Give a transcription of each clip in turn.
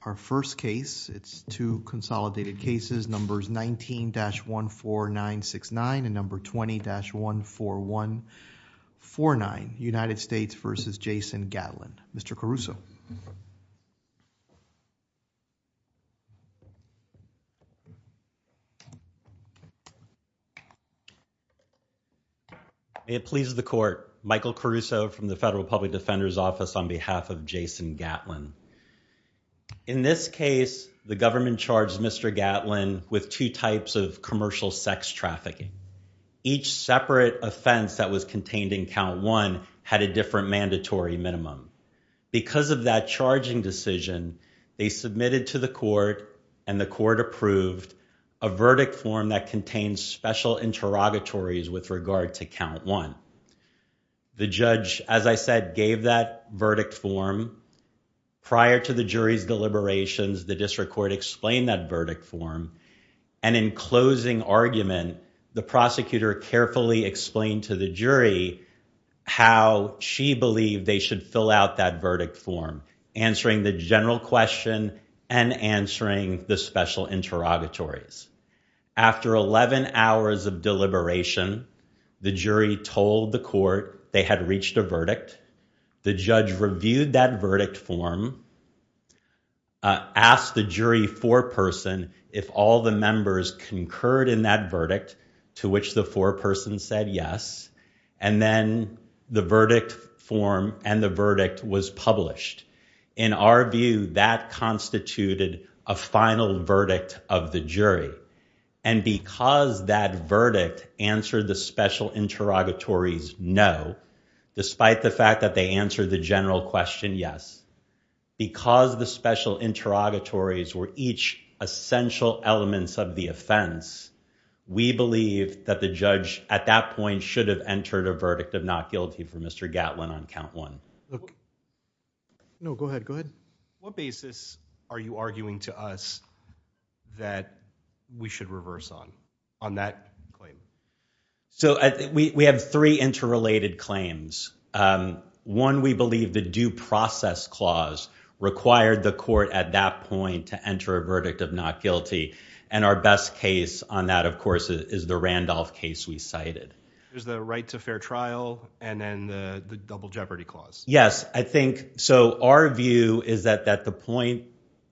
Our first case, it's two consolidated cases, numbers 19-14969 and number 20-14149, United States v. Jason Gatlin. Mr. Caruso. It pleases the court. Michael Caruso from the Federal Public Defender's Office on behalf of this case, the government charged Mr. Gatlin with two types of commercial sex trafficking. Each separate offense that was contained in count one had a different mandatory minimum. Because of that charging decision, they submitted to the court and the court approved a verdict form that contains special interrogatories with regard to count one. The judge, as I said, gave that district court explained that verdict form. And in closing argument, the prosecutor carefully explained to the jury how she believed they should fill out that verdict form, answering the general question and answering the special interrogatories. After 11 hours of deliberation, the jury told the court they had reached a verdict. The judge reviewed that verdict form, asked the jury foreperson if all the members concurred in that verdict, to which the foreperson said yes. And then the verdict form and the verdict was published. In our view, that constituted a final verdict of the jury. And because that verdict answered the special interrogatories no, despite the fact that they answered the general question yes, because the special interrogatories were each essential elements of the offense, we believe that the judge at that point should have entered a verdict of not guilty for Mr. Gatlin on count one. No, go ahead. Go ahead. What basis are you arguing to us that we should reverse on on that claim? So we have three interrelated claims. One, we believe the due process clause required the court at that point to enter a verdict of not guilty. And our best case on that, of course, is the Randolph case we cited. There's the right to fair trial and then the double jeopardy clause. Yes, I think so. Our view is that at the point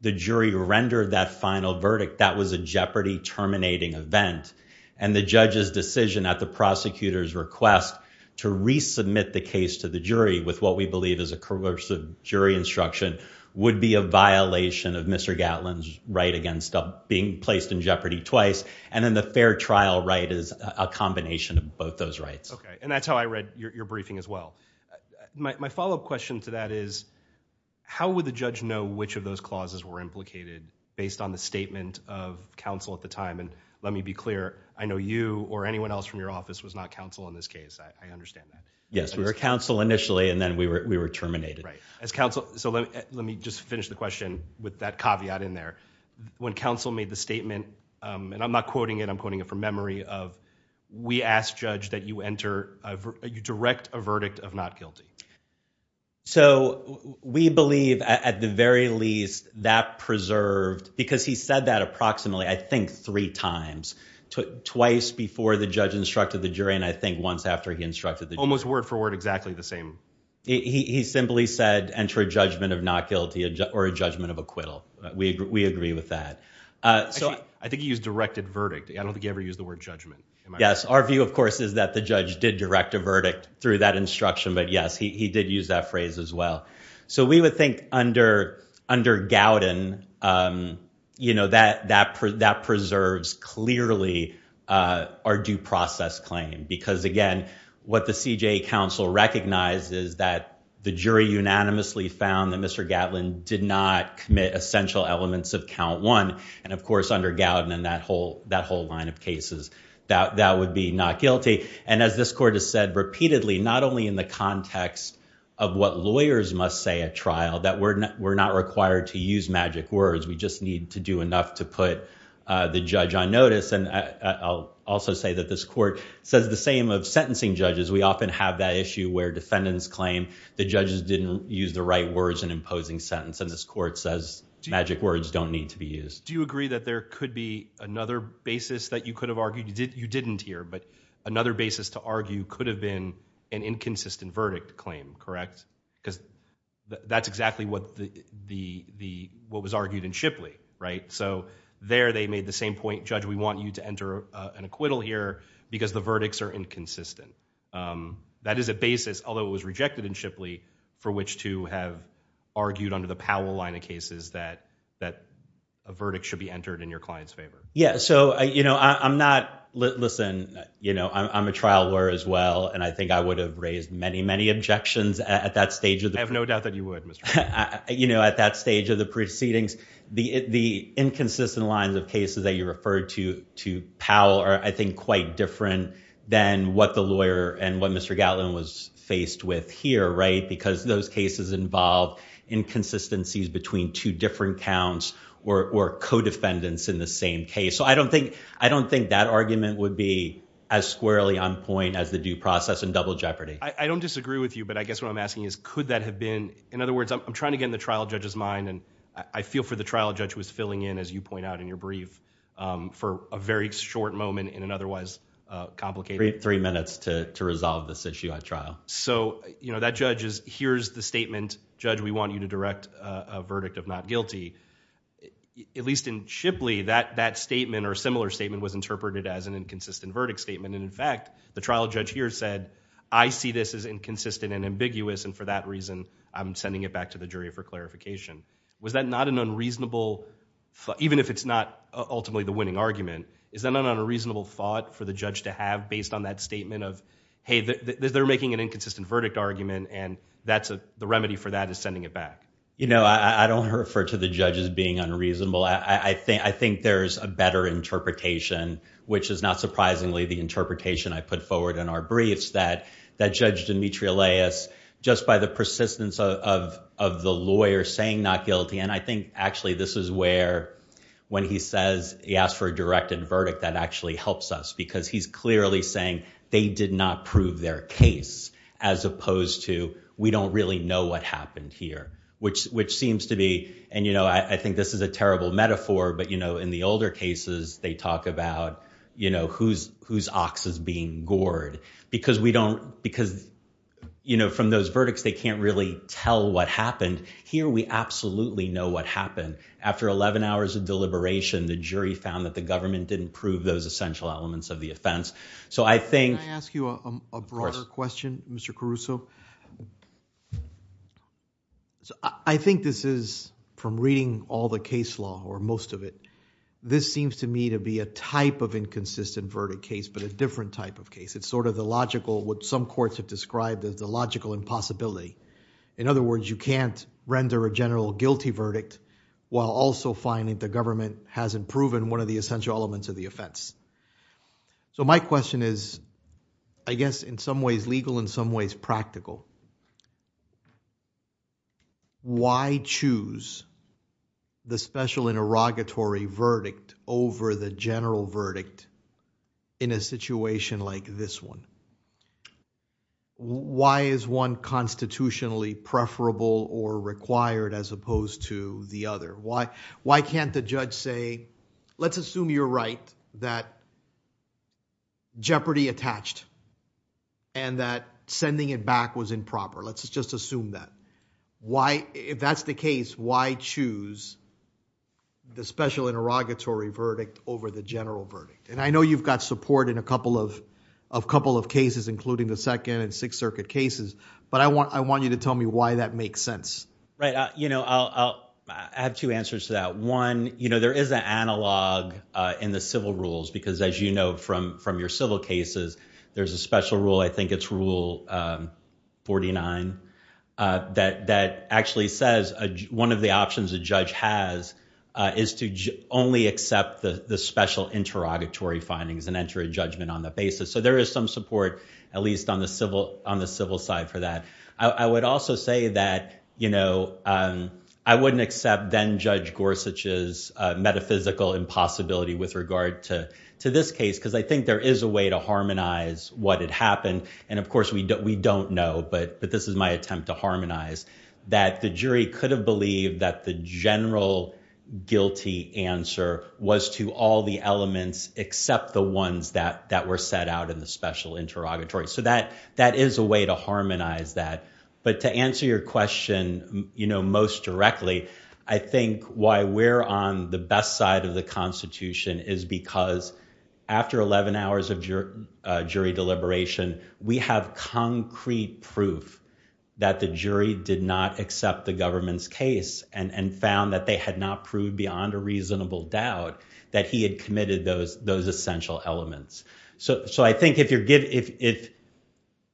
the jury rendered that final verdict, that was a jeopardy terminating event. And the judge's decision at the prosecutor's request to resubmit the case to the jury with what we believe is a coercive jury instruction would be a violation of Mr. Gatlin's right against being placed in jeopardy twice. And then the fair trial right is a combination of both those rights. OK, and that's how I read your briefing as well. My follow up question to that is how would the judge know which of those clauses were implicated based on the statement of counsel at the time? And let me be clear, I know you or anyone else from your office was not counsel in this case. I understand that. Yes, we were counsel initially and then we were we were terminated as counsel. So let me just finish the question with that caveat in there. When counsel made the statement and I'm not quoting it, I'm quoting it from memory of we asked judge that you enter you direct a verdict of not guilty. So we believe at the very least that preserved because he said that approximately, I think, three times, twice before the judge instructed the jury. And I think once after he instructed the almost word for word, exactly the same. He simply said enter a judgment of not guilty or a judgment of acquittal. We agree with that. So I think he's directed verdict. I don't think the word judgment. Yes. Our view, of course, is that the judge did direct a verdict through that instruction. But yes, he did use that phrase as well. So we would think under under Gowden, you know, that that that preserves clearly our due process claim, because, again, what the CJA counsel recognized is that the jury unanimously found that Mr. Gatlin did not commit essential elements of count one. And of course, under Gowden and that whole that whole line of cases that that would be not guilty. And as this court has said repeatedly, not only in the context of what lawyers must say at trial, that we're not we're not required to use magic words. We just need to do enough to put the judge on notice. And I'll also say that this court says the same of sentencing judges. We often have that issue where defendants claim the judges didn't use the right words and imposing sentence. And this court says magic words don't need to be used. Do you agree that there could be another basis that you could have argued? You didn't hear. But another basis to argue could have been an inconsistent verdict claim. Correct, because that's exactly what the the the what was argued in Shipley. Right. So there they made the same point. Judge, we want you to enter an acquittal here because the which to have argued under the Powell line of cases that that a verdict should be entered in your client's favor. Yeah. So, you know, I'm not listen, you know, I'm a trial lawyer as well. And I think I would have raised many, many objections at that stage. I have no doubt that you would. You know, at that stage of the proceedings, the inconsistent lines of cases that you referred to to Powell are, I think, quite different than what the lawyer and what Mr. Gatlin was faced with here. Right. Because those cases involve inconsistencies between two different counts or co-defendants in the same case. So I don't think I don't think that argument would be as squarely on point as the due process and double jeopardy. I don't disagree with you, but I guess what I'm asking is, could that have been? In other words, I'm trying to get in the trial judge's mind. And I feel for the trial judge was filling in, as you point out in your brief, for a very short moment in an otherwise complicated three minutes to resolve this issue at trial. So, you know, that judge is here's the statement, judge, we want you to direct a verdict of not guilty, at least in Shipley, that that statement or similar statement was interpreted as an inconsistent verdict statement. And in fact, the trial judge here said, I see this as inconsistent and ambiguous. And for that reason, I'm sending it back to the jury for clarification. Was that not an unreasonable, even if it's not ultimately the winning argument, is that not an unreasonable thought for the judge to have based on that statement of, hey, they're making an inconsistent verdict argument. And that's the remedy for that is sending it back. You know, I don't refer to the judge as being unreasonable. I think I think there's a better interpretation, which is not surprisingly, the interpretation I put forward in our briefs that that judge Dimitri Elias, just by the persistence of the lawyer saying not guilty. And I think actually, this is where when he says he asked for a directed verdict, that actually helps us because he's clearly saying they did not prove their case, as opposed to we don't really know what happened here, which which seems to be and you know, I think this is a terrible metaphor. But you know, in the older cases, they talk about you know, whose whose ox is being gored, because we don't because, you know, from those verdicts, they can't really tell what happened. Here, we absolutely know what happened. After 11 hours of deliberation, the jury found that the government didn't prove those essential elements of the offense. So I think I ask you a broader question, Mr. Caruso. So I think this is from reading all the case law or most of it. This seems to me to be a type of inconsistent verdict case, but a different type of case. It's sort of the logical what some courts have described as the logical impossibility. In other words, you can't render a general guilty verdict, while also finding the government hasn't proven one of the essential elements of the offense. So my question is, I guess, in some ways legal in some ways practical. Why choose the special interrogatory verdict over the general verdict in a situation like this one? Why is one constitutionally preferable or required as opposed to the other? Why, why can't the judge say, let's assume you're right, that jeopardy attached, and that sending it back was improper. Let's just assume that. Why, if that's the case, why choose the special interrogatory verdict over the general verdict? I know you've got support in a couple of cases, including the Second and Sixth Circuit cases, but I want you to tell me why that makes sense. I have two answers to that. One, there is an analog in the civil rules, because as you know, from your civil cases, there's a special rule, I think it's rule 49, that actually says one of the findings and enter a judgment on the basis. So there is some support, at least on the civil side for that. I would also say that, you know, I wouldn't accept then Judge Gorsuch's metaphysical impossibility with regard to this case, because I think there is a way to harmonize what had happened. And of course, we don't know, but this is my attempt to harmonize that the jury could believe that the general guilty answer was to all the elements except the ones that were set out in the special interrogatory. So that is a way to harmonize that. But to answer your question, you know, most directly, I think why we're on the best side of the Constitution is because after 11 hours of jury deliberation, we have concrete proof that the jury did not accept the government's case and found that they had not proved beyond a reasonable doubt that he had committed those essential elements. So I think if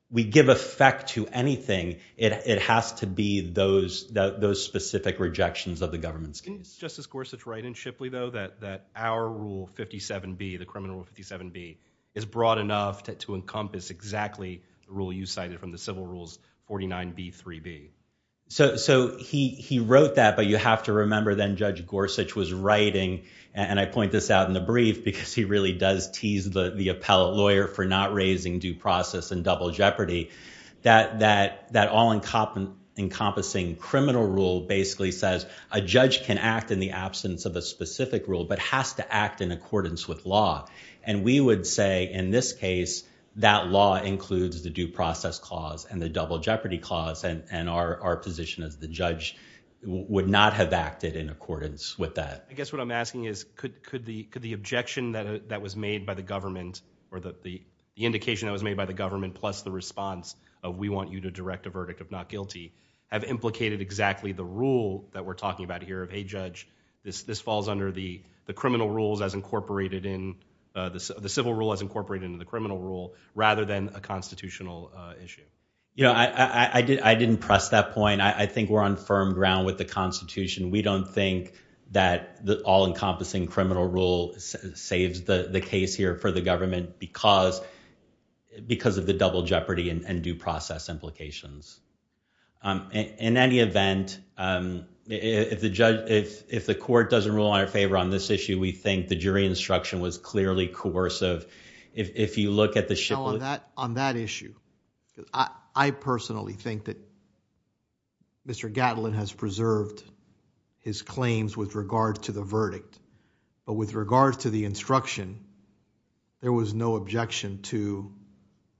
we give effect to anything, it has to be those specific rejections of the government's case. Can Justice Gorsuch write in Shipley, though, that our rule 57B, the criminal rule 57B, is broad enough to encompass exactly the rule you cited from the civil rules 49B, 3B? So he wrote that, but you have to remember then Judge Gorsuch was writing, and I point this out in the brief because he really does tease the appellate lawyer for not raising due process and double jeopardy, that all-encompassing criminal rule basically says a judge can act in the absence of a specific rule but has to act in accordance with law. And we would say, in this case, that law includes the due process clause and the double jeopardy clause, and our position as the judge would not have acted in accordance with that. I guess what I'm asking is, could the objection that was made by the government or the indication that was made by the government plus the response of, we want you to direct a verdict of not guilty, have implicated exactly the rule that we're talking about here of, hey, judge, this falls under the civil rule as incorporated into the criminal rule rather than a constitutional issue? You know, I didn't press that point. I think we're on firm ground with the Constitution. We don't think that the all-encompassing criminal rule saves the case here for the government because of the double jeopardy and due process implications. In any event, if the court doesn't rule in our favor on this issue, we think the jury instruction was clearly coercive. If you look at the... No, on that issue, I personally think that Mr. Gatlin has preserved his claims with regard to the verdict, but with regard to the instruction, there was no objection to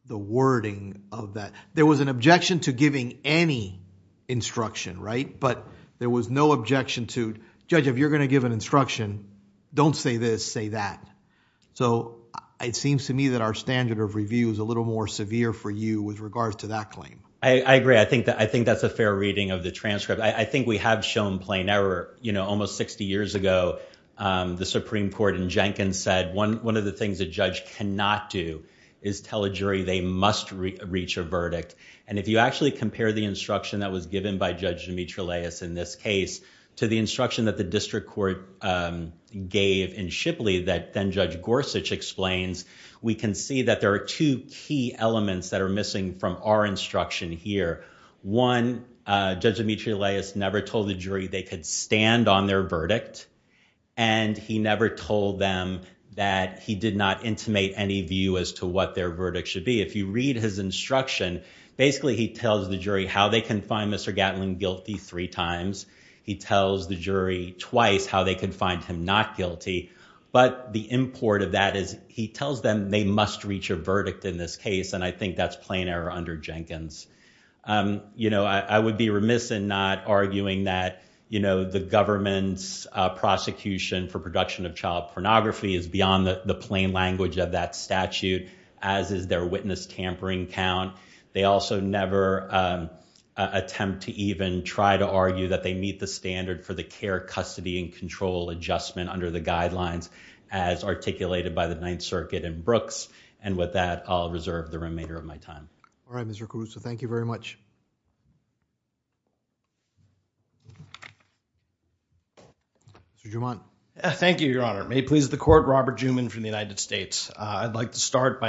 the wording of that. There was an objection to giving any instruction, right? But there was no objection to, judge, if you're going to give an instruction, don't say this, say that. So it seems to me that our standard of review is a little more severe for you with regards to that claim. I agree. I think that's a fair reading of the transcript. I think we have shown plain error. You know, almost 60 years ago, the Supreme Court in Jenkins said one of the things a judge cannot do is tell a jury they must reach a verdict. And if you actually compare the instruction that was the district court gave in Shipley that then Judge Gorsuch explains, we can see that there are two key elements that are missing from our instruction here. One, Judge Dimitri Laius never told the jury they could stand on their verdict, and he never told them that he did not intimate any view as to what their verdict should be. If you read his instruction, basically he tells the jury how they can find Mr. Gatlin guilty three times. He tells the jury twice how they can find him not guilty. But the import of that is he tells them they must reach a verdict in this case. And I think that's plain error under Jenkins. You know, I would be remiss in not arguing that, you know, the government's prosecution for production of child pornography is beyond the plain language of that statute, as is their tampering count. They also never attempt to even try to argue that they meet the standard for the care, custody, and control adjustment under the guidelines as articulated by the Ninth Circuit and Brooks. And with that, I'll reserve the remainder of my time. All right, Mr. Caluso, thank you very much. Mr. Jumant. Thank you, Your Honor. May it please the court, that you're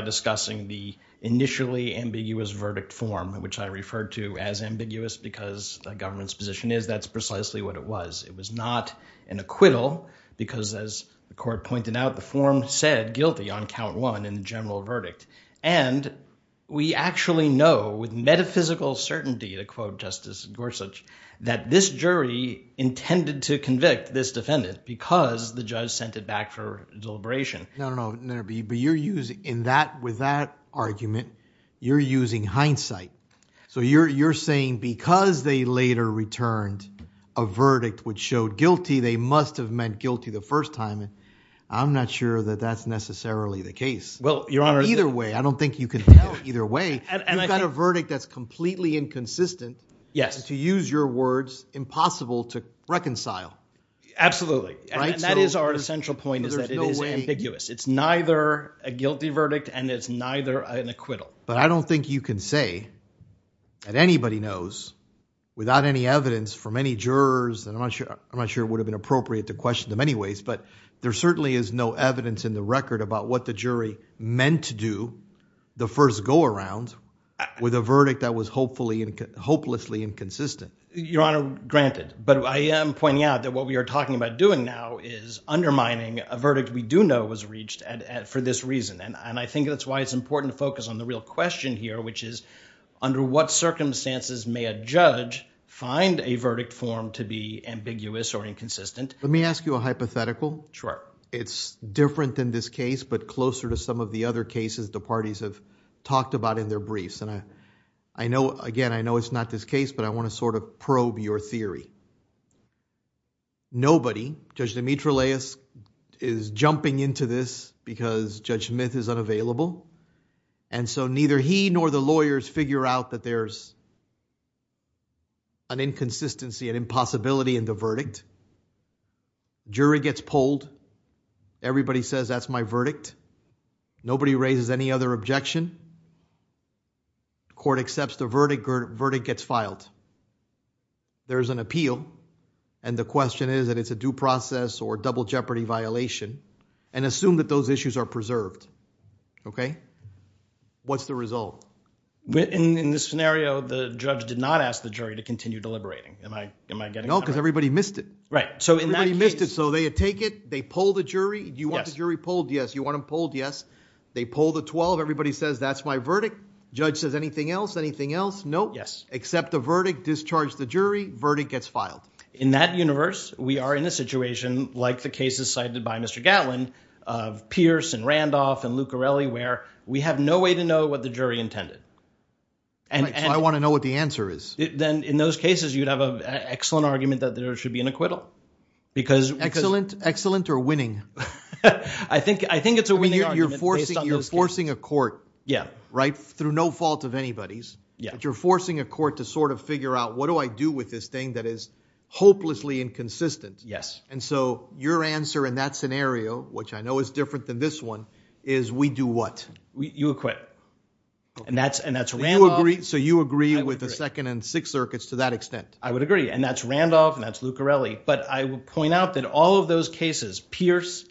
using the initially ambiguous verdict form, which I referred to as ambiguous because the government's position is that's precisely what it was. It was not an acquittal because, as the court pointed out, the form said guilty on count one in the general verdict. And we actually know with metaphysical certainty, to quote Justice Gorsuch, that this jury intended to convict this defendant because the judge sent it back for deliberation. No, no, no, argument. You're using hindsight. So you're saying because they later returned a verdict which showed guilty, they must have meant guilty the first time. I'm not sure that that's necessarily the case. Well, Your Honor, either way, I don't think you can tell either way. You've got a verdict that's completely inconsistent. Yes. To use your words, impossible to reconcile. Absolutely. And that is our essential point is that it is ambiguous. It's neither a guilty verdict and it's neither an acquittal. But I don't think you can say that anybody knows without any evidence for many jurors. And I'm not sure I'm not sure it would have been appropriate to question them anyways. But there certainly is no evidence in the record about what the jury meant to do the first go around with a verdict that was hopefully and hopelessly inconsistent. Your Honor, granted. But I am pointing out that what we are talking about doing now is undermining a verdict we do know was reached for this reason. And I think that's why it's important to focus on the real question here, which is under what circumstances may a judge find a verdict form to be ambiguous or inconsistent? Let me ask you a hypothetical. Sure. It's different than this case, but closer to some of the other cases the parties have talked about in their briefs. And I know again, I know it's not this case, but I want to sort of is jumping into this because Judge Smith is unavailable. And so neither he nor the lawyers figure out that there's an inconsistency and impossibility in the verdict. Jury gets polled. Everybody says that's my verdict. Nobody raises any other objection. Court accepts the verdict or verdict gets filed. There is an appeal. And the question is that it's a due process or double jeopardy violation and assume that those issues are preserved. Okay. What's the result? In this scenario, the judge did not ask the jury to continue deliberating. Am I getting it right? No, because everybody missed it. Right. So everybody missed it. So they take it. They poll the jury. You want the jury polled? Yes. You want them polled? Yes. They poll the 12. Everybody says that's my verdict. Judge says anything else? Anything else? No. Yes. Accept the verdict. Discharge the jury. Verdict gets filed. In that universe, we are in a situation like the cases cited by Mr. Gatlin of Pierce and Randolph and Lucarelli, where we have no way to know what the jury intended. And I want to know what the answer is. Then in those cases, you'd have an excellent argument that there should be an acquittal. Excellent or winning? I think it's a winning argument. You're forcing a court. Yeah. Right. Through no fault of figure out what do I do with this thing that is hopelessly inconsistent? Yes. And so your answer in that scenario, which I know is different than this one, is we do what? You acquit. And that's Randolph. So you agree with the Second and Sixth Circuits to that extent? I would agree. And that's Randolph and that's Lucarelli. But I will point out that all of those cases, Pierce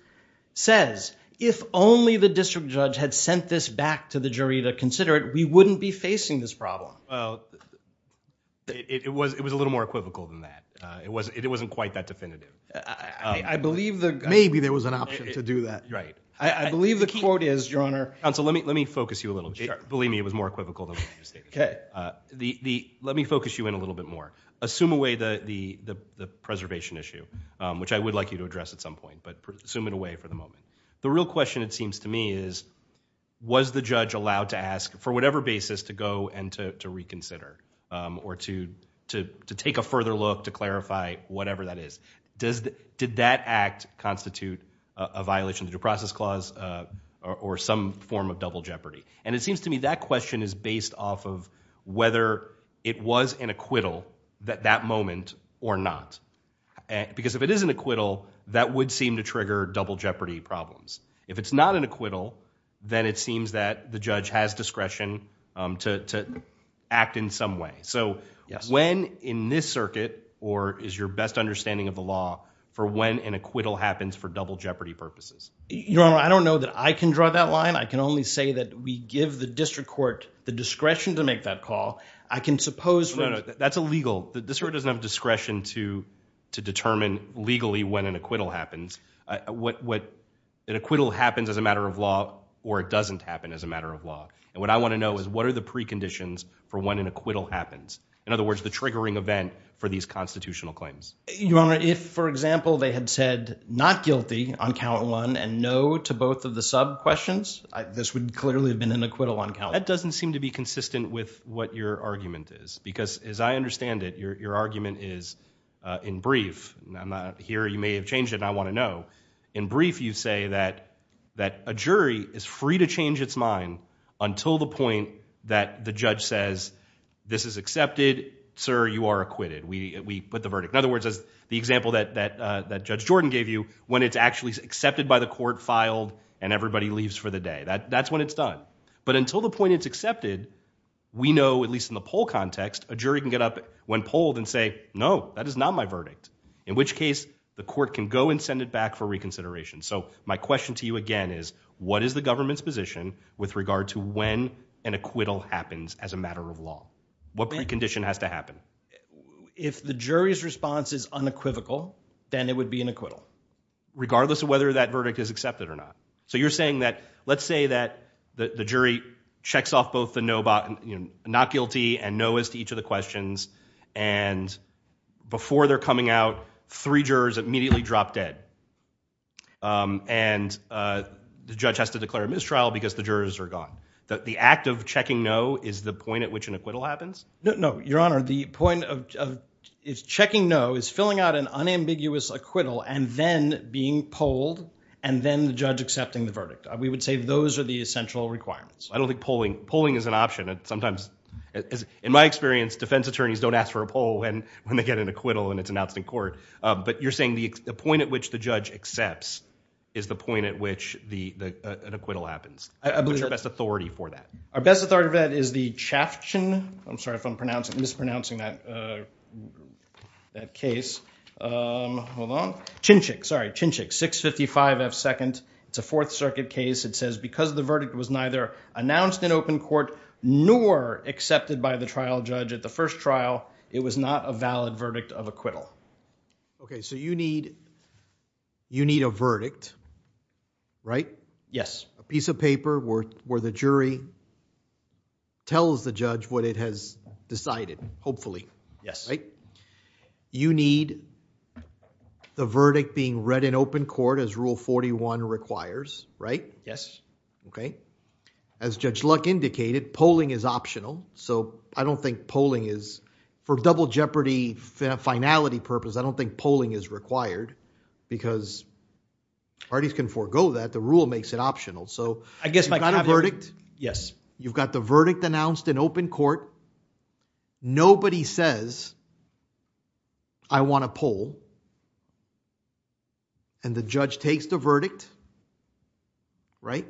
says, if only the district judge had sent this back to the jury to consider it, we wouldn't be facing this problem. Well, it was a little more equivocal than that. It wasn't quite that definitive. I believe that maybe there was an option to do that. Right. I believe the quote is, Your Honor. Counsel, let me focus you a little bit. Believe me, it was more equivocal than what you stated. Okay. Let me focus you in a little bit more. Assume away the preservation issue, which I would like you to address at some point, but assume it away for the moment. The real question, it seems to me, is, was the judge allowed to ask, for whatever basis, to go and to reconsider or to take a further look to clarify whatever that is? Did that act constitute a violation of the due process clause or some form of double jeopardy? And it seems to me that question is based off of whether it was an acquittal at that moment or not. Because if it is an acquittal, that would seem to trigger double jeopardy problems. If it's not an acquittal, then it seems that the judge has discretion to act in some way. So when in this circuit, or is your best understanding of the law for when an acquittal happens for double jeopardy purposes? Your Honor, I don't know that I can draw that line. I can only say that we give the district court the discretion to make that call. I can suppose... No, no. That's illegal. The district doesn't have discretion to determine legally when an acquittal happens. An acquittal happens as a matter of law or it doesn't happen as a matter of law. And what I want to know is, what are the preconditions for when an acquittal happens? In other words, the triggering event for these constitutional claims. Your Honor, if, for example, they had said not guilty on count one and no to both of the sub questions, this would clearly have been an acquittal on count one. That doesn't seem to what your argument is. Because as I understand it, your argument is, in brief, I'm not here, you may have changed it and I want to know. In brief, you say that a jury is free to change its mind until the point that the judge says, this is accepted, sir, you are acquitted. We put the verdict. In other words, as the example that Judge Jordan gave you, when it's actually accepted by the court, filed, and everybody leaves for the day. That's when it's done. But until the point it's accepted, we know, at least in the poll context, a jury can get up when polled and say, no, that is not my verdict. In which case, the court can go and send it back for reconsideration. So my question to you again is, what is the government's position with regard to when an acquittal happens as a matter of law? What precondition has to happen? If the jury's response is unequivocal, then it would be an acquittal. Regardless of whether that verdict is accepted or not. So you're saying that, let's say that the jury checks off both the no, not guilty, and no is to each of the questions, and before they're coming out, three jurors immediately drop dead. And the judge has to declare a mistrial because the jurors are gone. The act of checking no is the point at which an acquittal happens? No, no, your honor. The point of checking no is filling out an unambiguous acquittal and then being polled, and then the judge accepting the essential requirements. I don't think polling is an option. Sometimes, in my experience, defense attorneys don't ask for a poll when they get an acquittal and it's announced in court. But you're saying the point at which the judge accepts is the point at which an acquittal happens. What's your best authority for that? Our best authority for that is the Chaftain, I'm sorry if I'm mispronouncing that case. Hold on. Chinchik, sorry, Chinchik, 655 F 2nd. It's a Fourth Circuit case. It says because the verdict was neither announced in open court nor accepted by the trial judge at the first trial, it was not a valid verdict of acquittal. Okay, so you need a verdict, right? Yes. A piece of paper where the jury tells the judge what it has decided, hopefully. Yes. You need the verdict being read in open court as Rule 41 requires, right? Yes. Okay. As Judge Luck indicated, polling is optional. So, I don't think polling is, for double jeopardy finality purpose, I don't think polling is required because parties can forego that. The rule makes it optional. So, you've got a verdict. Yes. You've got the verdict announced in open court. Nobody says, I want to poll. And the judge takes the verdict, right?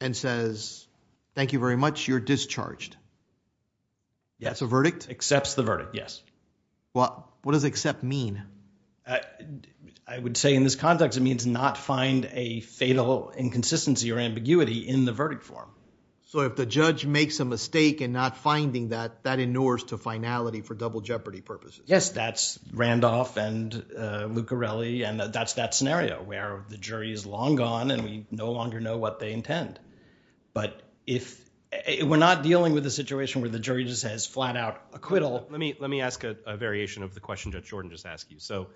And says, thank you very much, you're discharged. That's a verdict? Accepts the verdict, yes. Well, what does accept mean? I would say in this context, it means not find a fatal inconsistency or ambiguity in the verdict form. So, if the judge makes a mistake in not finding that, that inures to finality for double jeopardy purposes. Yes, that's Randolph and Luccarelli, and that's that scenario where the jury is long gone and we no longer know what they intend. But if we're not dealing with a situation where the jury just has flat out acquittal. Let me ask a variation of the question Judge Jordan just asked you. So,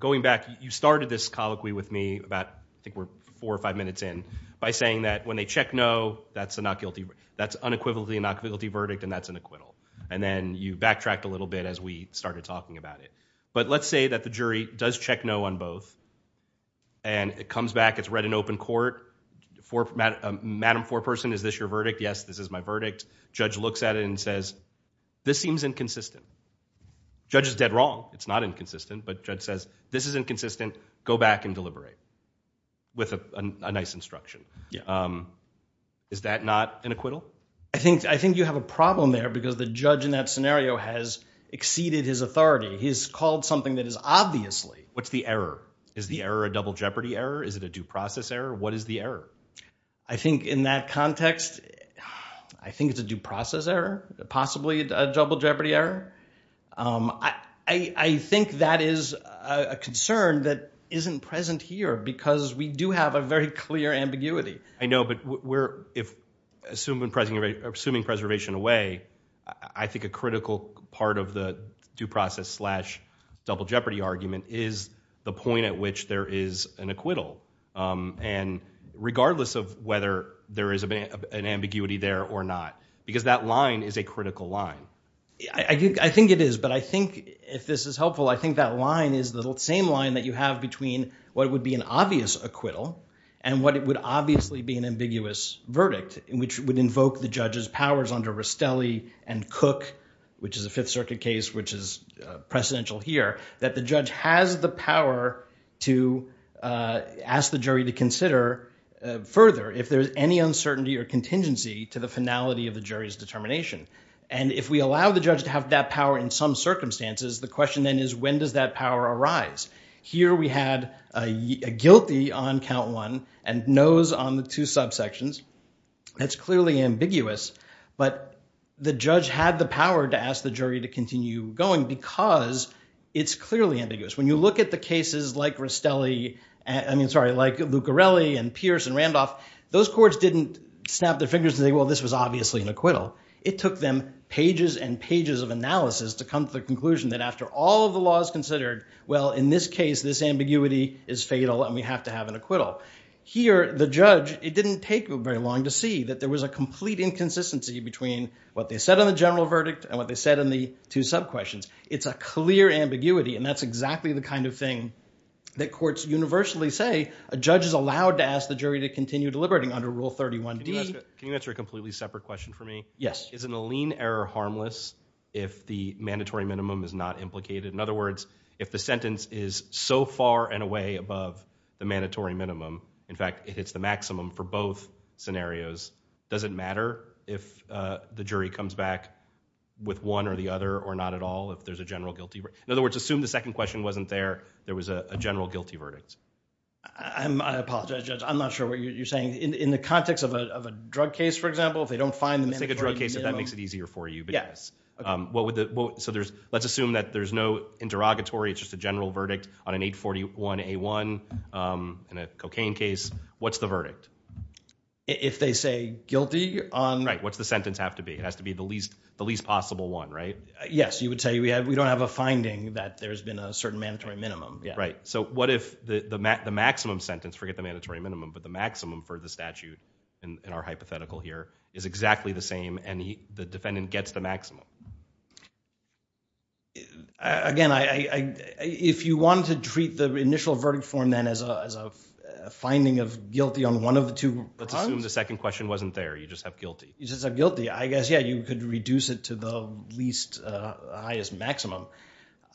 going back, you started this colloquy with me about, I think we're four or five minutes in, by saying that when they check no, that's unequivocally a not guilty verdict and that's an acquittal. And then you backtracked a little bit as we started talking about it. But let's say that the jury does check no on both, and it comes back, it's read in open court. Madam foreperson, is this your verdict? Yes, this is my verdict. Judge looks at it and says, this seems inconsistent. Judge is dead wrong. It's not inconsistent. But judge says, this is inconsistent. Go back and deliberate with a nice instruction. Is that not an acquittal? I think you have a problem there because the judge in that scenario has exceeded his authority. He's called something that is obviously. What's the error? Is the error a double jeopardy error? Is it a due process error? What is the error? I think in that context, I think it's a due process error, possibly a double jeopardy error. I think that is a concern that isn't present here, because we do have a very clear ambiguity. I know, but assuming preservation away, I think a critical part of the due process slash double jeopardy argument is the point at which there is an acquittal. And regardless of whether there is an ambiguity there or not, because that line is a critical line. I think it is. But I think if this is helpful, I think that line is the same line that you have between what would be an obvious acquittal and what would obviously be an ambiguous verdict, which would invoke the judge's powers under Rustelli and Cook, which is a Fifth Circuit case, which is precedential here, that the judge has the power to ask the jury to consider further if there's any uncertainty or contingency to the finality of the jury's determination. And if we allow the judge to have that power in some circumstances, the question then is, when does that power arise? Here we had a guilty on count one and no's on the two subsections. That's clearly ambiguous. But the judge had the power to ask the jury to continue going because it's clearly ambiguous. When you look at the cases like Rustelli, I mean, sorry, like Luccarelli and Pierce and Randolph, those courts didn't snap their fingers and say, well, this was obviously an acquittal. It took them pages and pages of analysis to come to the conclusion that after all of the law is considered, well, in this case, this ambiguity is fatal and we have to have an acquittal. Here, the judge, it didn't take very long to see that there was a complete inconsistency between what they said on the general verdict and what they said in the two subquestions. It's a clear ambiguity, and that's exactly the kind of thing that courts universally say. A judge is allowed to ask the jury to continue deliberating under Rule 31d. Can you answer a completely separate question for me? Yes. Isn't a lien error harmless if the mandatory minimum is not implicated? In other words, if the sentence is so far and away above the mandatory minimum, in fact, it hits the maximum for both scenarios, does it matter if the jury comes back with one or the other or not at all if there's a general guilty verdict? In other words, assume the second question wasn't there, there was a general guilty verdict. I apologize, Judge. I'm not sure what you're saying. In the context of a drug case, for example, if they don't find the mandatory minimum... Let's take a drug case if that makes it easier for you. Yes. So let's assume that there's no interrogatory, it's just a general verdict on an 841A1 in a cocaine case. What's the verdict? If they say guilty on... Right. What's the sentence have to be? It has to be the least possible one, right? Yes. You would say we don't have a finding that there's been a certain mandatory minimum. Right. So what if the maximum sentence, forget the mandatory minimum, but the maximum for the statute in our hypothetical here is exactly the same and the defendant gets the maximum? Again, if you want to treat the initial verdict form then as a finding of guilty on one of the two... Let's assume the second question wasn't there, you just have guilty. I guess, yeah, you could reduce it to the least highest maximum,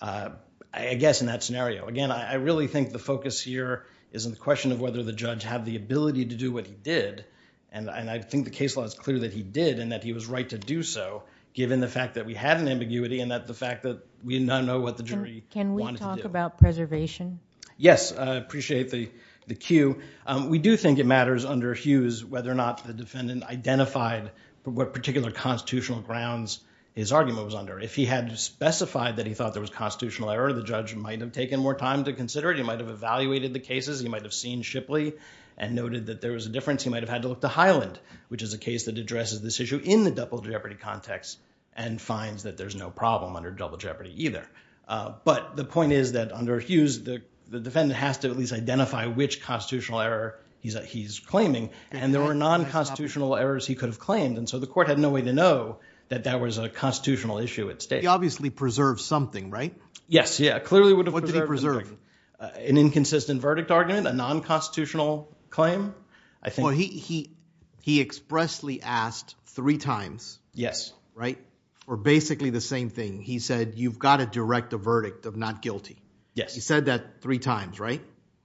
I guess in that scenario. Again, I really think the focus here is on the question of whether the judge had the ability to do what he did and I think the case law is clear that he did and that he was right to do so given the fact that we had an ambiguity and the fact that we now know what the jury wanted to do. Can we talk about preservation? Yes. I appreciate the cue. We do think it matters under Hughes whether or not the defendant identified what particular constitutional grounds his argument was under. If he had specified that he thought there was constitutional error, the judge might have taken more time to consider it. He might have evaluated the cases. He might have seen Shipley and noted that there was a difference. He might have had to look to Highland, which is a case that addresses this issue in the double jeopardy context and finds that there's no problem under double jeopardy either. But the point is that under Hughes, the defendant has to at least identify which unconstitutional errors he could have claimed and so the court had no way to know that that was a constitutional issue at stake. He obviously preserved something, right? Yes. Yeah, clearly would have. What did he preserve? An inconsistent verdict argument, a non-constitutional claim, I think. Well, he expressly asked three times. Yes. Right? Or basically the same thing. He said, you've got to direct a verdict of not guilty. Yes. He said that three times, right?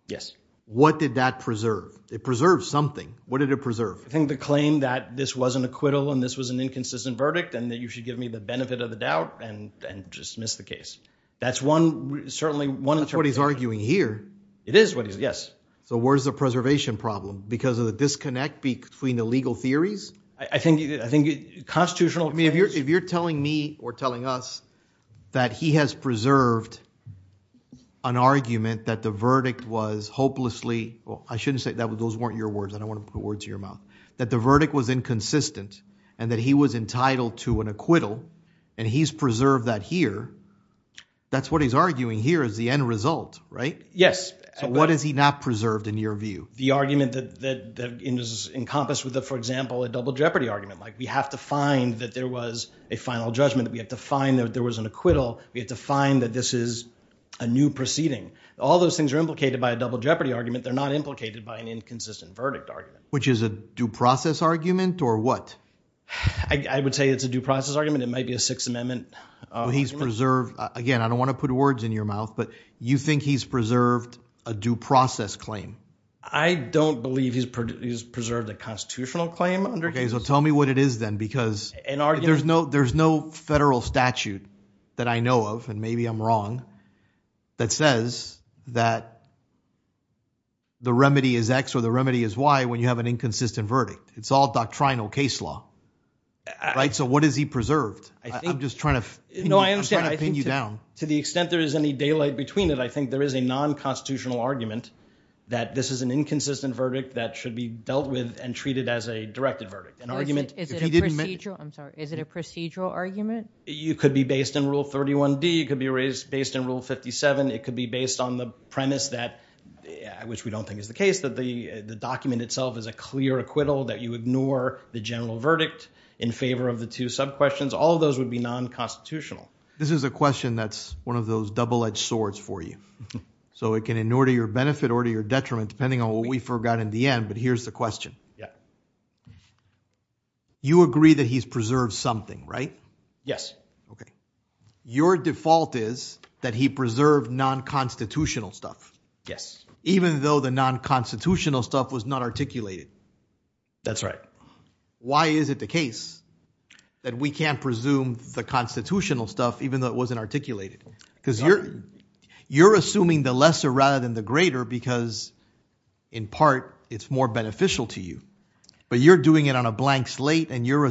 Yes. What did that preserve? It preserves something. What did it preserve? I think the claim that this was an acquittal and this was an inconsistent verdict and that you should give me the benefit of the doubt and just dismiss the case. That's one, certainly one. That's what he's arguing here. It is what he's, yes. So where's the preservation problem? Because of the disconnect between the legal theories? I think, I think constitutional. I mean, if you're, if you're telling me or telling us that he has preserved an argument that the verdict was hopelessly, well, I shouldn't say that, but those weren't your words. I don't want to put words in your mouth. That the verdict was inconsistent and that he was entitled to an acquittal. And he's preserved that here. That's what he's arguing here is the end result, right? Yes. So what is he not preserved in your view? The argument that is encompassed with, for example, a double jeopardy argument. Like we have to find that there was a final judgment that we have to find that there was an acquittal. We have to find that this is a new proceeding. All those things are implicated by a double jeopardy argument. They're not implicated by an inconsistent verdict argument. Which is a due process argument or what? I would say it's a due process argument. It might be a sixth amendment. He's preserved again. I don't want to put words in your mouth, but you think he's preserved a due process claim? I don't believe he's, he's preserved a constitutional claim. Okay. So tell me what it is then, because there's no, there's no federal statute that I know of, and maybe I'm wrong, that says that the remedy is X or the remedy is Y when you have an inconsistent verdict. It's all doctrinal case law, right? So what is he preserved? I'm just trying to pin you down. To the extent there is any daylight between it, I think there is a non-constitutional argument that this is an inconsistent verdict that should be dealt with and treated as a directed verdict. Is it a procedural argument? You could be based in rule 31D. You could be raised based in rule 57. It could be based on the premise that, which we don't think is the case, that the document itself is a clear acquittal that you ignore the general verdict in favor of the two sub questions. All of those would be non-constitutional. This is a question that's one of those double-edged swords for you. So it can in order to your benefit or to your detriment, depending on what we forgot in the end. But here's the question. You agree that he's preserved something, right? Yes. Okay. Your default is that he preserved non-constitutional stuff. Yes. Even though the non-constitutional stuff was not articulated. That's right. Why is it the case that we can't presume the constitutional stuff, even though it wasn't articulated because you're, you're assuming the lesser rather than the greater, because in part it's more beneficial to you, but you're doing it on a blank slate and you're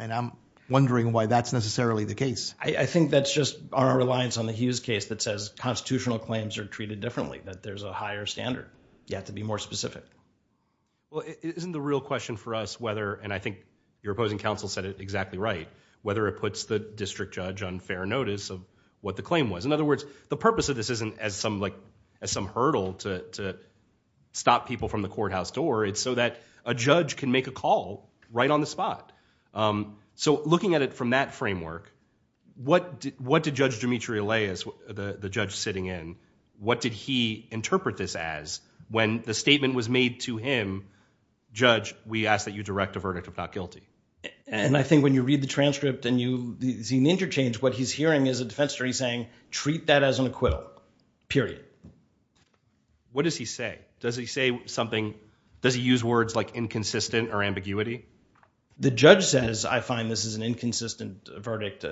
and I'm wondering why that's necessarily the case. I think that's just our reliance on the Hughes case that says constitutional claims are treated differently, that there's a higher standard yet to be more specific. Well, isn't the real question for us, whether, and I think your opposing counsel said it exactly right, whether it puts the district judge on fair notice of what the claim was. In other words, the purpose of this isn't as some like, as some hurdle to, to stop people from the courthouse door. It's so that a judge can make a call right on the spot. So looking at it from that framework, what did, what did judge Dimitri Aleas, the judge sitting in, what did he interpret this as when the statement was made to him, judge, we ask that you direct a verdict of not guilty. And I think when you read the transcript and you see an interchange, what he's hearing is a defense attorney saying, treat that as an acquittal, period. What does he say? Does he say something? Does he use words like inconsistent or ambiguity? The judge says, I find this is an inconsistent verdict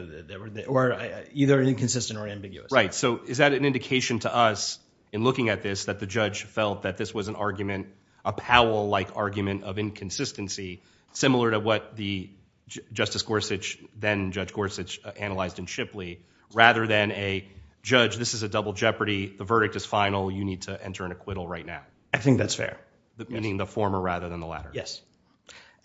or either inconsistent or ambiguous. Right. So is that an indication to us in looking at this, that the judge felt that this was an argument, a Powell like argument of inconsistency, similar to what the justice Gorsuch, then judge Gorsuch analyzed in Shipley, rather than a judge, this is a double jeopardy. The verdict is final. You need to enter an acquittal right now. I think that's fair. Meaning the former rather than the latter. Yes.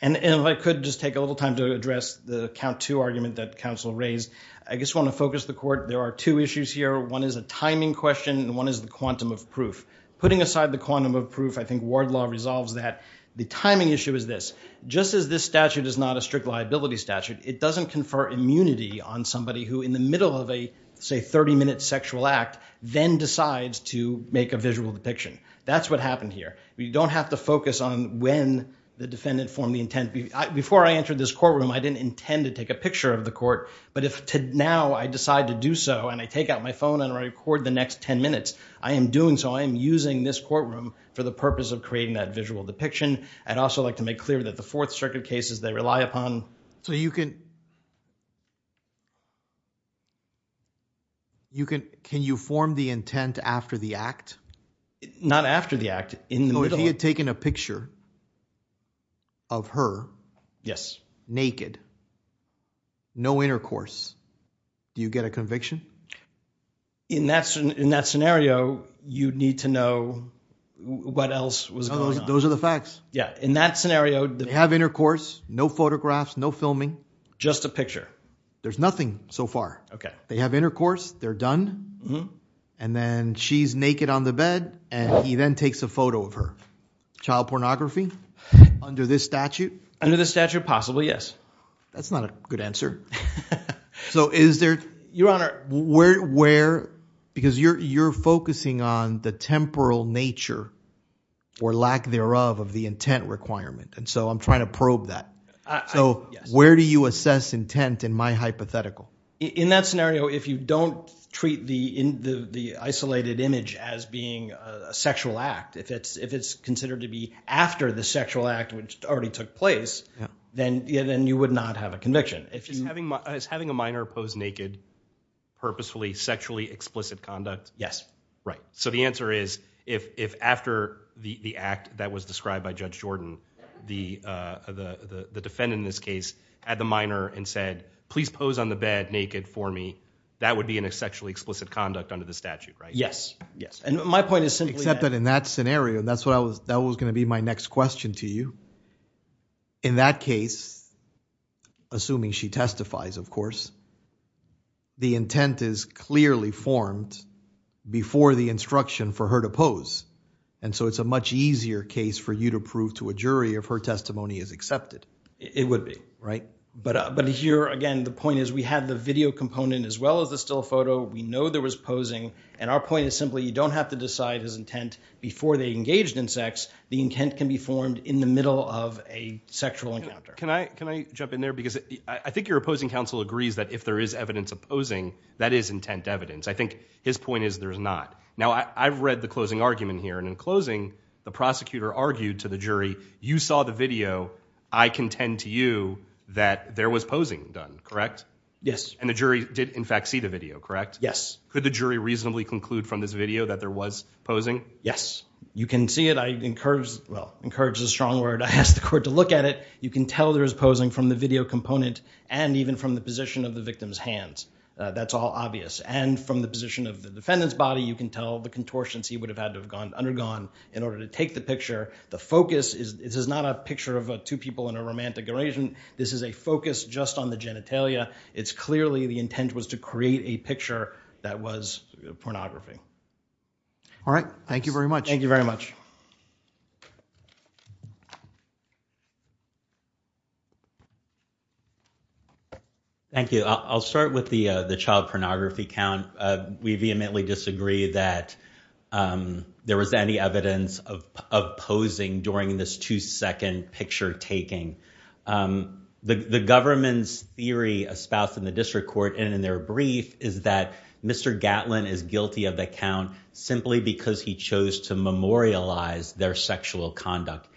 And if I could just take a little time to address the count two argument that counsel raised, I just want to focus the court. There are two issues here. One is a timing question and one is the quantum of proof. Putting aside the quantum of proof, I think ward law resolves that. The timing issue is this, just as this statute is not a strict liability statute, it doesn't confer immunity on somebody who in the middle of a, say, 30 minute sexual act, then decides to make a visual depiction. That's what happened here. We don't have to focus on when the defendant formed the intent. Before I entered this courtroom, I didn't intend to take a picture of the court, but if now I decide to do so and I take out my phone and record the next 10 minutes, I am doing so. I'm using this courtroom for the purpose of creating that visual depiction. I'd also like to make clear that the Fourth Circuit cases they rely upon. So you can, you can, can you form the intent after the act? Not after the act. In the middle. If he had taken a picture of her. Yes. Naked. No intercourse. Do you get a conviction? In that scenario, you'd need to know what else was going on. Those are the facts. Yeah. In that scenario. They have intercourse, no photographs, no filming. Just a picture. There's nothing so far. Okay. They have intercourse, they're done. And then she's naked on the bed and he then takes a photo of her. Child pornography under this statute. Under the statute, possibly. Yes. That's not a good answer. So is there. Your Honor. Where, because you're, you're focusing on the temporal nature or lack thereof of the intent requirement. And so I'm trying to probe that. So where do you assess intent in my hypothetical? In that scenario, if you don't treat the, in the, the isolated image as being a sexual act, if it's, if it's considered to be after the sexual act, which already took place, then, then you would not have a conviction. If you. Is having a minor pose naked purposefully sexually explicit conduct? Yes. Right. So the answer is if, if after the act that was described by Judge Jordan, the, the, the naked for me, that would be an sexually explicit conduct under the statute, right? Yes. Yes. And my point is simply. Except that in that scenario, that's what I was, that was going to be my next question to you. In that case, assuming she testifies, of course, the intent is clearly formed. Before the instruction for her to pose. And so it's a much easier case for you to prove to a jury of her testimony is accepted. It would be right. But, but here again, the point is we have the video component as well as the still photo. We know there was posing. And our point is simply, you don't have to decide his intent before they engaged in sex. The intent can be formed in the middle of a sexual encounter. Can I, can I jump in there? Because I think your opposing counsel agrees that if there is evidence opposing, that is intent evidence. I think his point is there is not now I've read the closing argument here. And in closing the prosecutor argued to the jury, you saw the video. I contend to you that there was posing done, correct? Yes. And the jury did, in fact, see the video, correct? Yes. Could the jury reasonably conclude from this video that there was posing? Yes, you can see it. I encourage, well, encourage is a strong word. I asked the court to look at it. You can tell there is posing from the video component and even from the position of the victim's hands. That's all obvious. And from the position of the defendant's body, you can tell the contortions he would have had to have gone, undergone in order to take the picture. The focus is, this is not a picture of two people in a romantic relation. This is a focus just on the genitalia. It's clearly the intent was to create a picture that was pornography. All right. Thank you very much. Thank you very much. Thank you. I'll start with the child pornography count. We vehemently disagree that there was any evidence of posing during this two-second picture taking. The government's theory espoused in the district court and in their brief is that Mr. Gatlin is guilty of the count simply because he chose to memorialize their sexual conduct.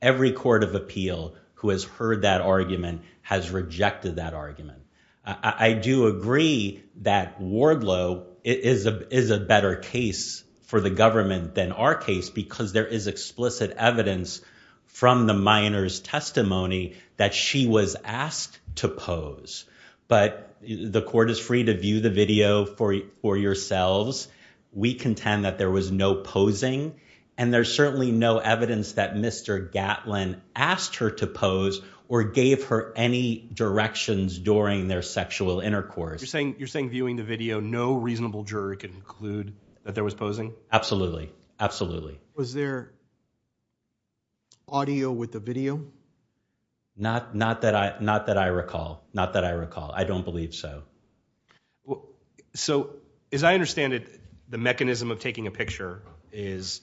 Every court of appeal who has heard that argument has rejected that argument. I do agree that Wardlow is a better case for the government than our case because there is explicit evidence from the minor's testimony that she was asked to pose. But the court is free to view the video for yourselves. We contend that there was no posing. And there's certainly no evidence that Mr. Gatlin asked her to pose or gave her any directions during their sexual intercourse. You're saying viewing the video, no reasonable jury can conclude that there was posing? Absolutely. Absolutely. Was there audio with the video? Not that I recall. Not that I recall. I don't believe so. So as I understand it, the mechanism of taking a picture is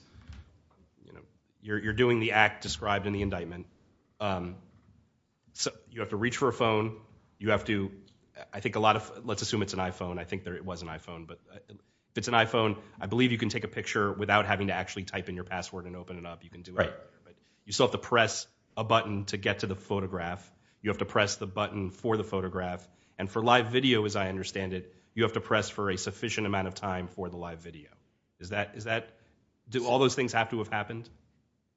you're doing the act described in the indictment. And you have to reach for a phone, you have to, I think a lot of, let's assume it's an iPhone. I think it was an iPhone. But if it's an iPhone, I believe you can take a picture without having to actually type in your password and open it up. You can do it. You still have to press a button to get to the photograph. You have to press the button for the photograph. And for live video, as I understand it, you have to press for a sufficient amount of time for the live video. Is that, do all those things have to have happened?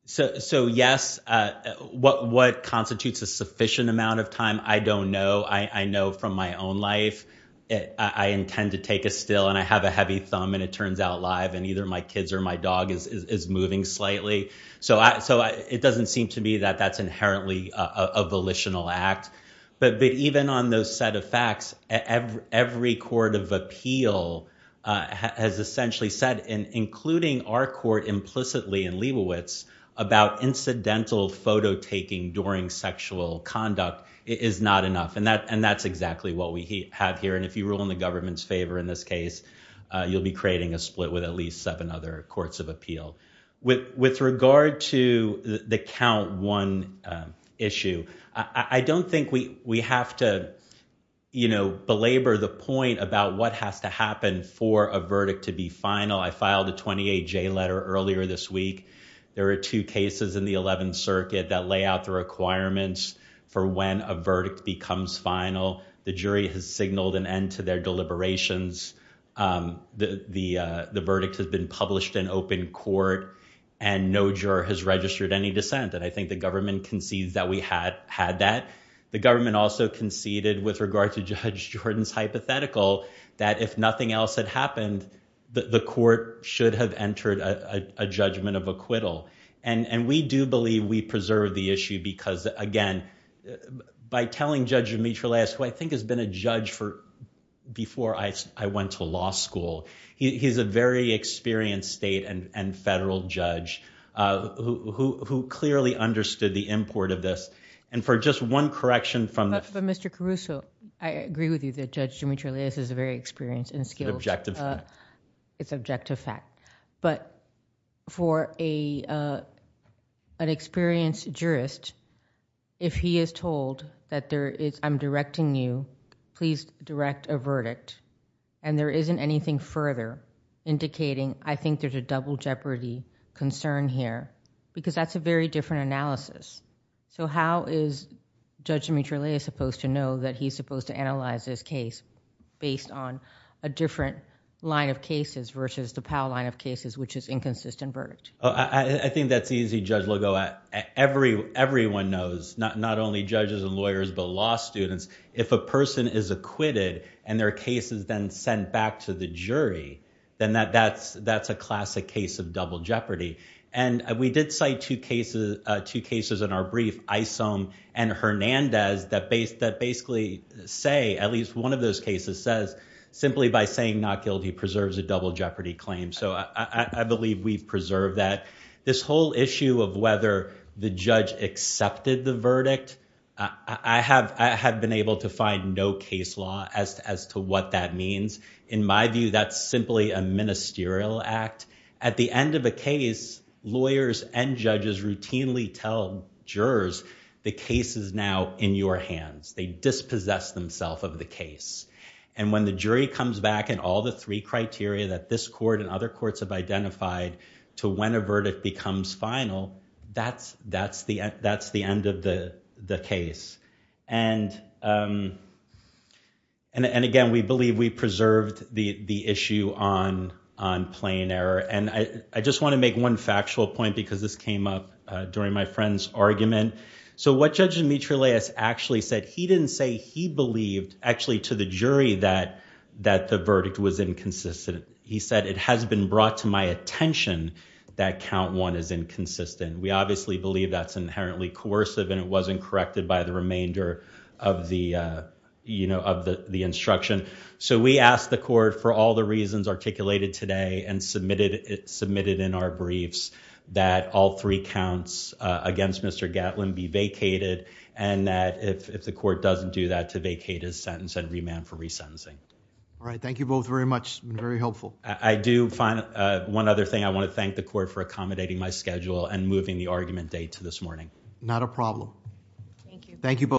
So yes, what constitutes a sufficient amount of time? I don't know. I know from my own life, I intend to take a still and I have a heavy thumb and it turns out live and either my kids or my dog is moving slightly. So it doesn't seem to me that that's inherently a volitional act. But even on those set of facts, every court of appeal has essentially said, including our court implicitly in Leibovitz about incidental photo taking during sexual conduct is not enough. And that's exactly what we have here. And if you rule in the government's favor in this case, you'll be creating a split with at least seven other courts of appeal. With regard to the count one issue, I don't think we have to belabor the point about what has to happen for a verdict to be final. I filed a 28 J letter earlier this week. There are two cases in the 11th circuit that lay out the requirements for when a verdict becomes final. The jury has signaled an end to their deliberations. The verdict has been published in open court and no juror has registered any dissent. And I think the government concedes that we had that. The government also conceded with regard to Judge Jordan's hypothetical that if nothing else had happened, the court should have entered a judgment of acquittal. And we do believe we preserve the issue because, again, by telling Judge Demetriou, who I think has been a judge for before I went to law school, he's a very experienced state and federal judge who clearly understood the import of this. And for just one correction from Mr. Caruso. I agree with you that Judge Demetriou is a very experienced and skilled... Objective. It's objective fact. But for an experienced jurist, if he is told that I'm directing you, please direct a verdict and there isn't anything further indicating I think there's a double jeopardy concern here, because that's a very different analysis. So how is Judge Demetriou supposed to know that he's supposed to analyze his case based on a different line of cases versus the Powell line of cases, which is inconsistent verdict? I think that's easy, Judge Lugo. Everyone knows, not only judges and lawyers, but law students, if a person is acquitted and their case is then sent back to the jury, then that's a classic case of double jeopardy. And we did cite two cases in our brief, Isom and Hernandez, that basically say, at least one of those cases says, simply by saying not guilty preserves a double jeopardy claim. So I believe we've preserved that. This whole issue of whether the judge accepted the verdict, I have been able to find no case law as to what that means. In my view, that's simply a ministerial act. At the end of a case, lawyers and judges routinely tell jurors, the case is now in your hands. They dispossess themselves of the case. And when the jury comes back and all the three criteria that this court and other courts have identified to when a verdict becomes final, that's the end of the case. And again, we believe we preserved the issue on plain error. And I just want to make one factual point, because this came up during my friend's argument. So what Judge Dimitriles actually said, he didn't say he believed, actually, to the jury that the verdict was inconsistent. He said, it has been brought to my attention that count one is inconsistent. We obviously believe that's inherently coercive. And it wasn't corrected by the remainder of the instruction. So we asked the court, for all the reasons articulated today and submitted in our briefs, that all three counts against Mr. Gatlin be vacated. And that if the court doesn't do that, to vacate his sentence and remand for resentencing. All right, thank you both very much. It's been very helpful. I do find one other thing. I want to thank the court for accommodating my schedule and moving the argument date to this morning. Not a problem. Thank you.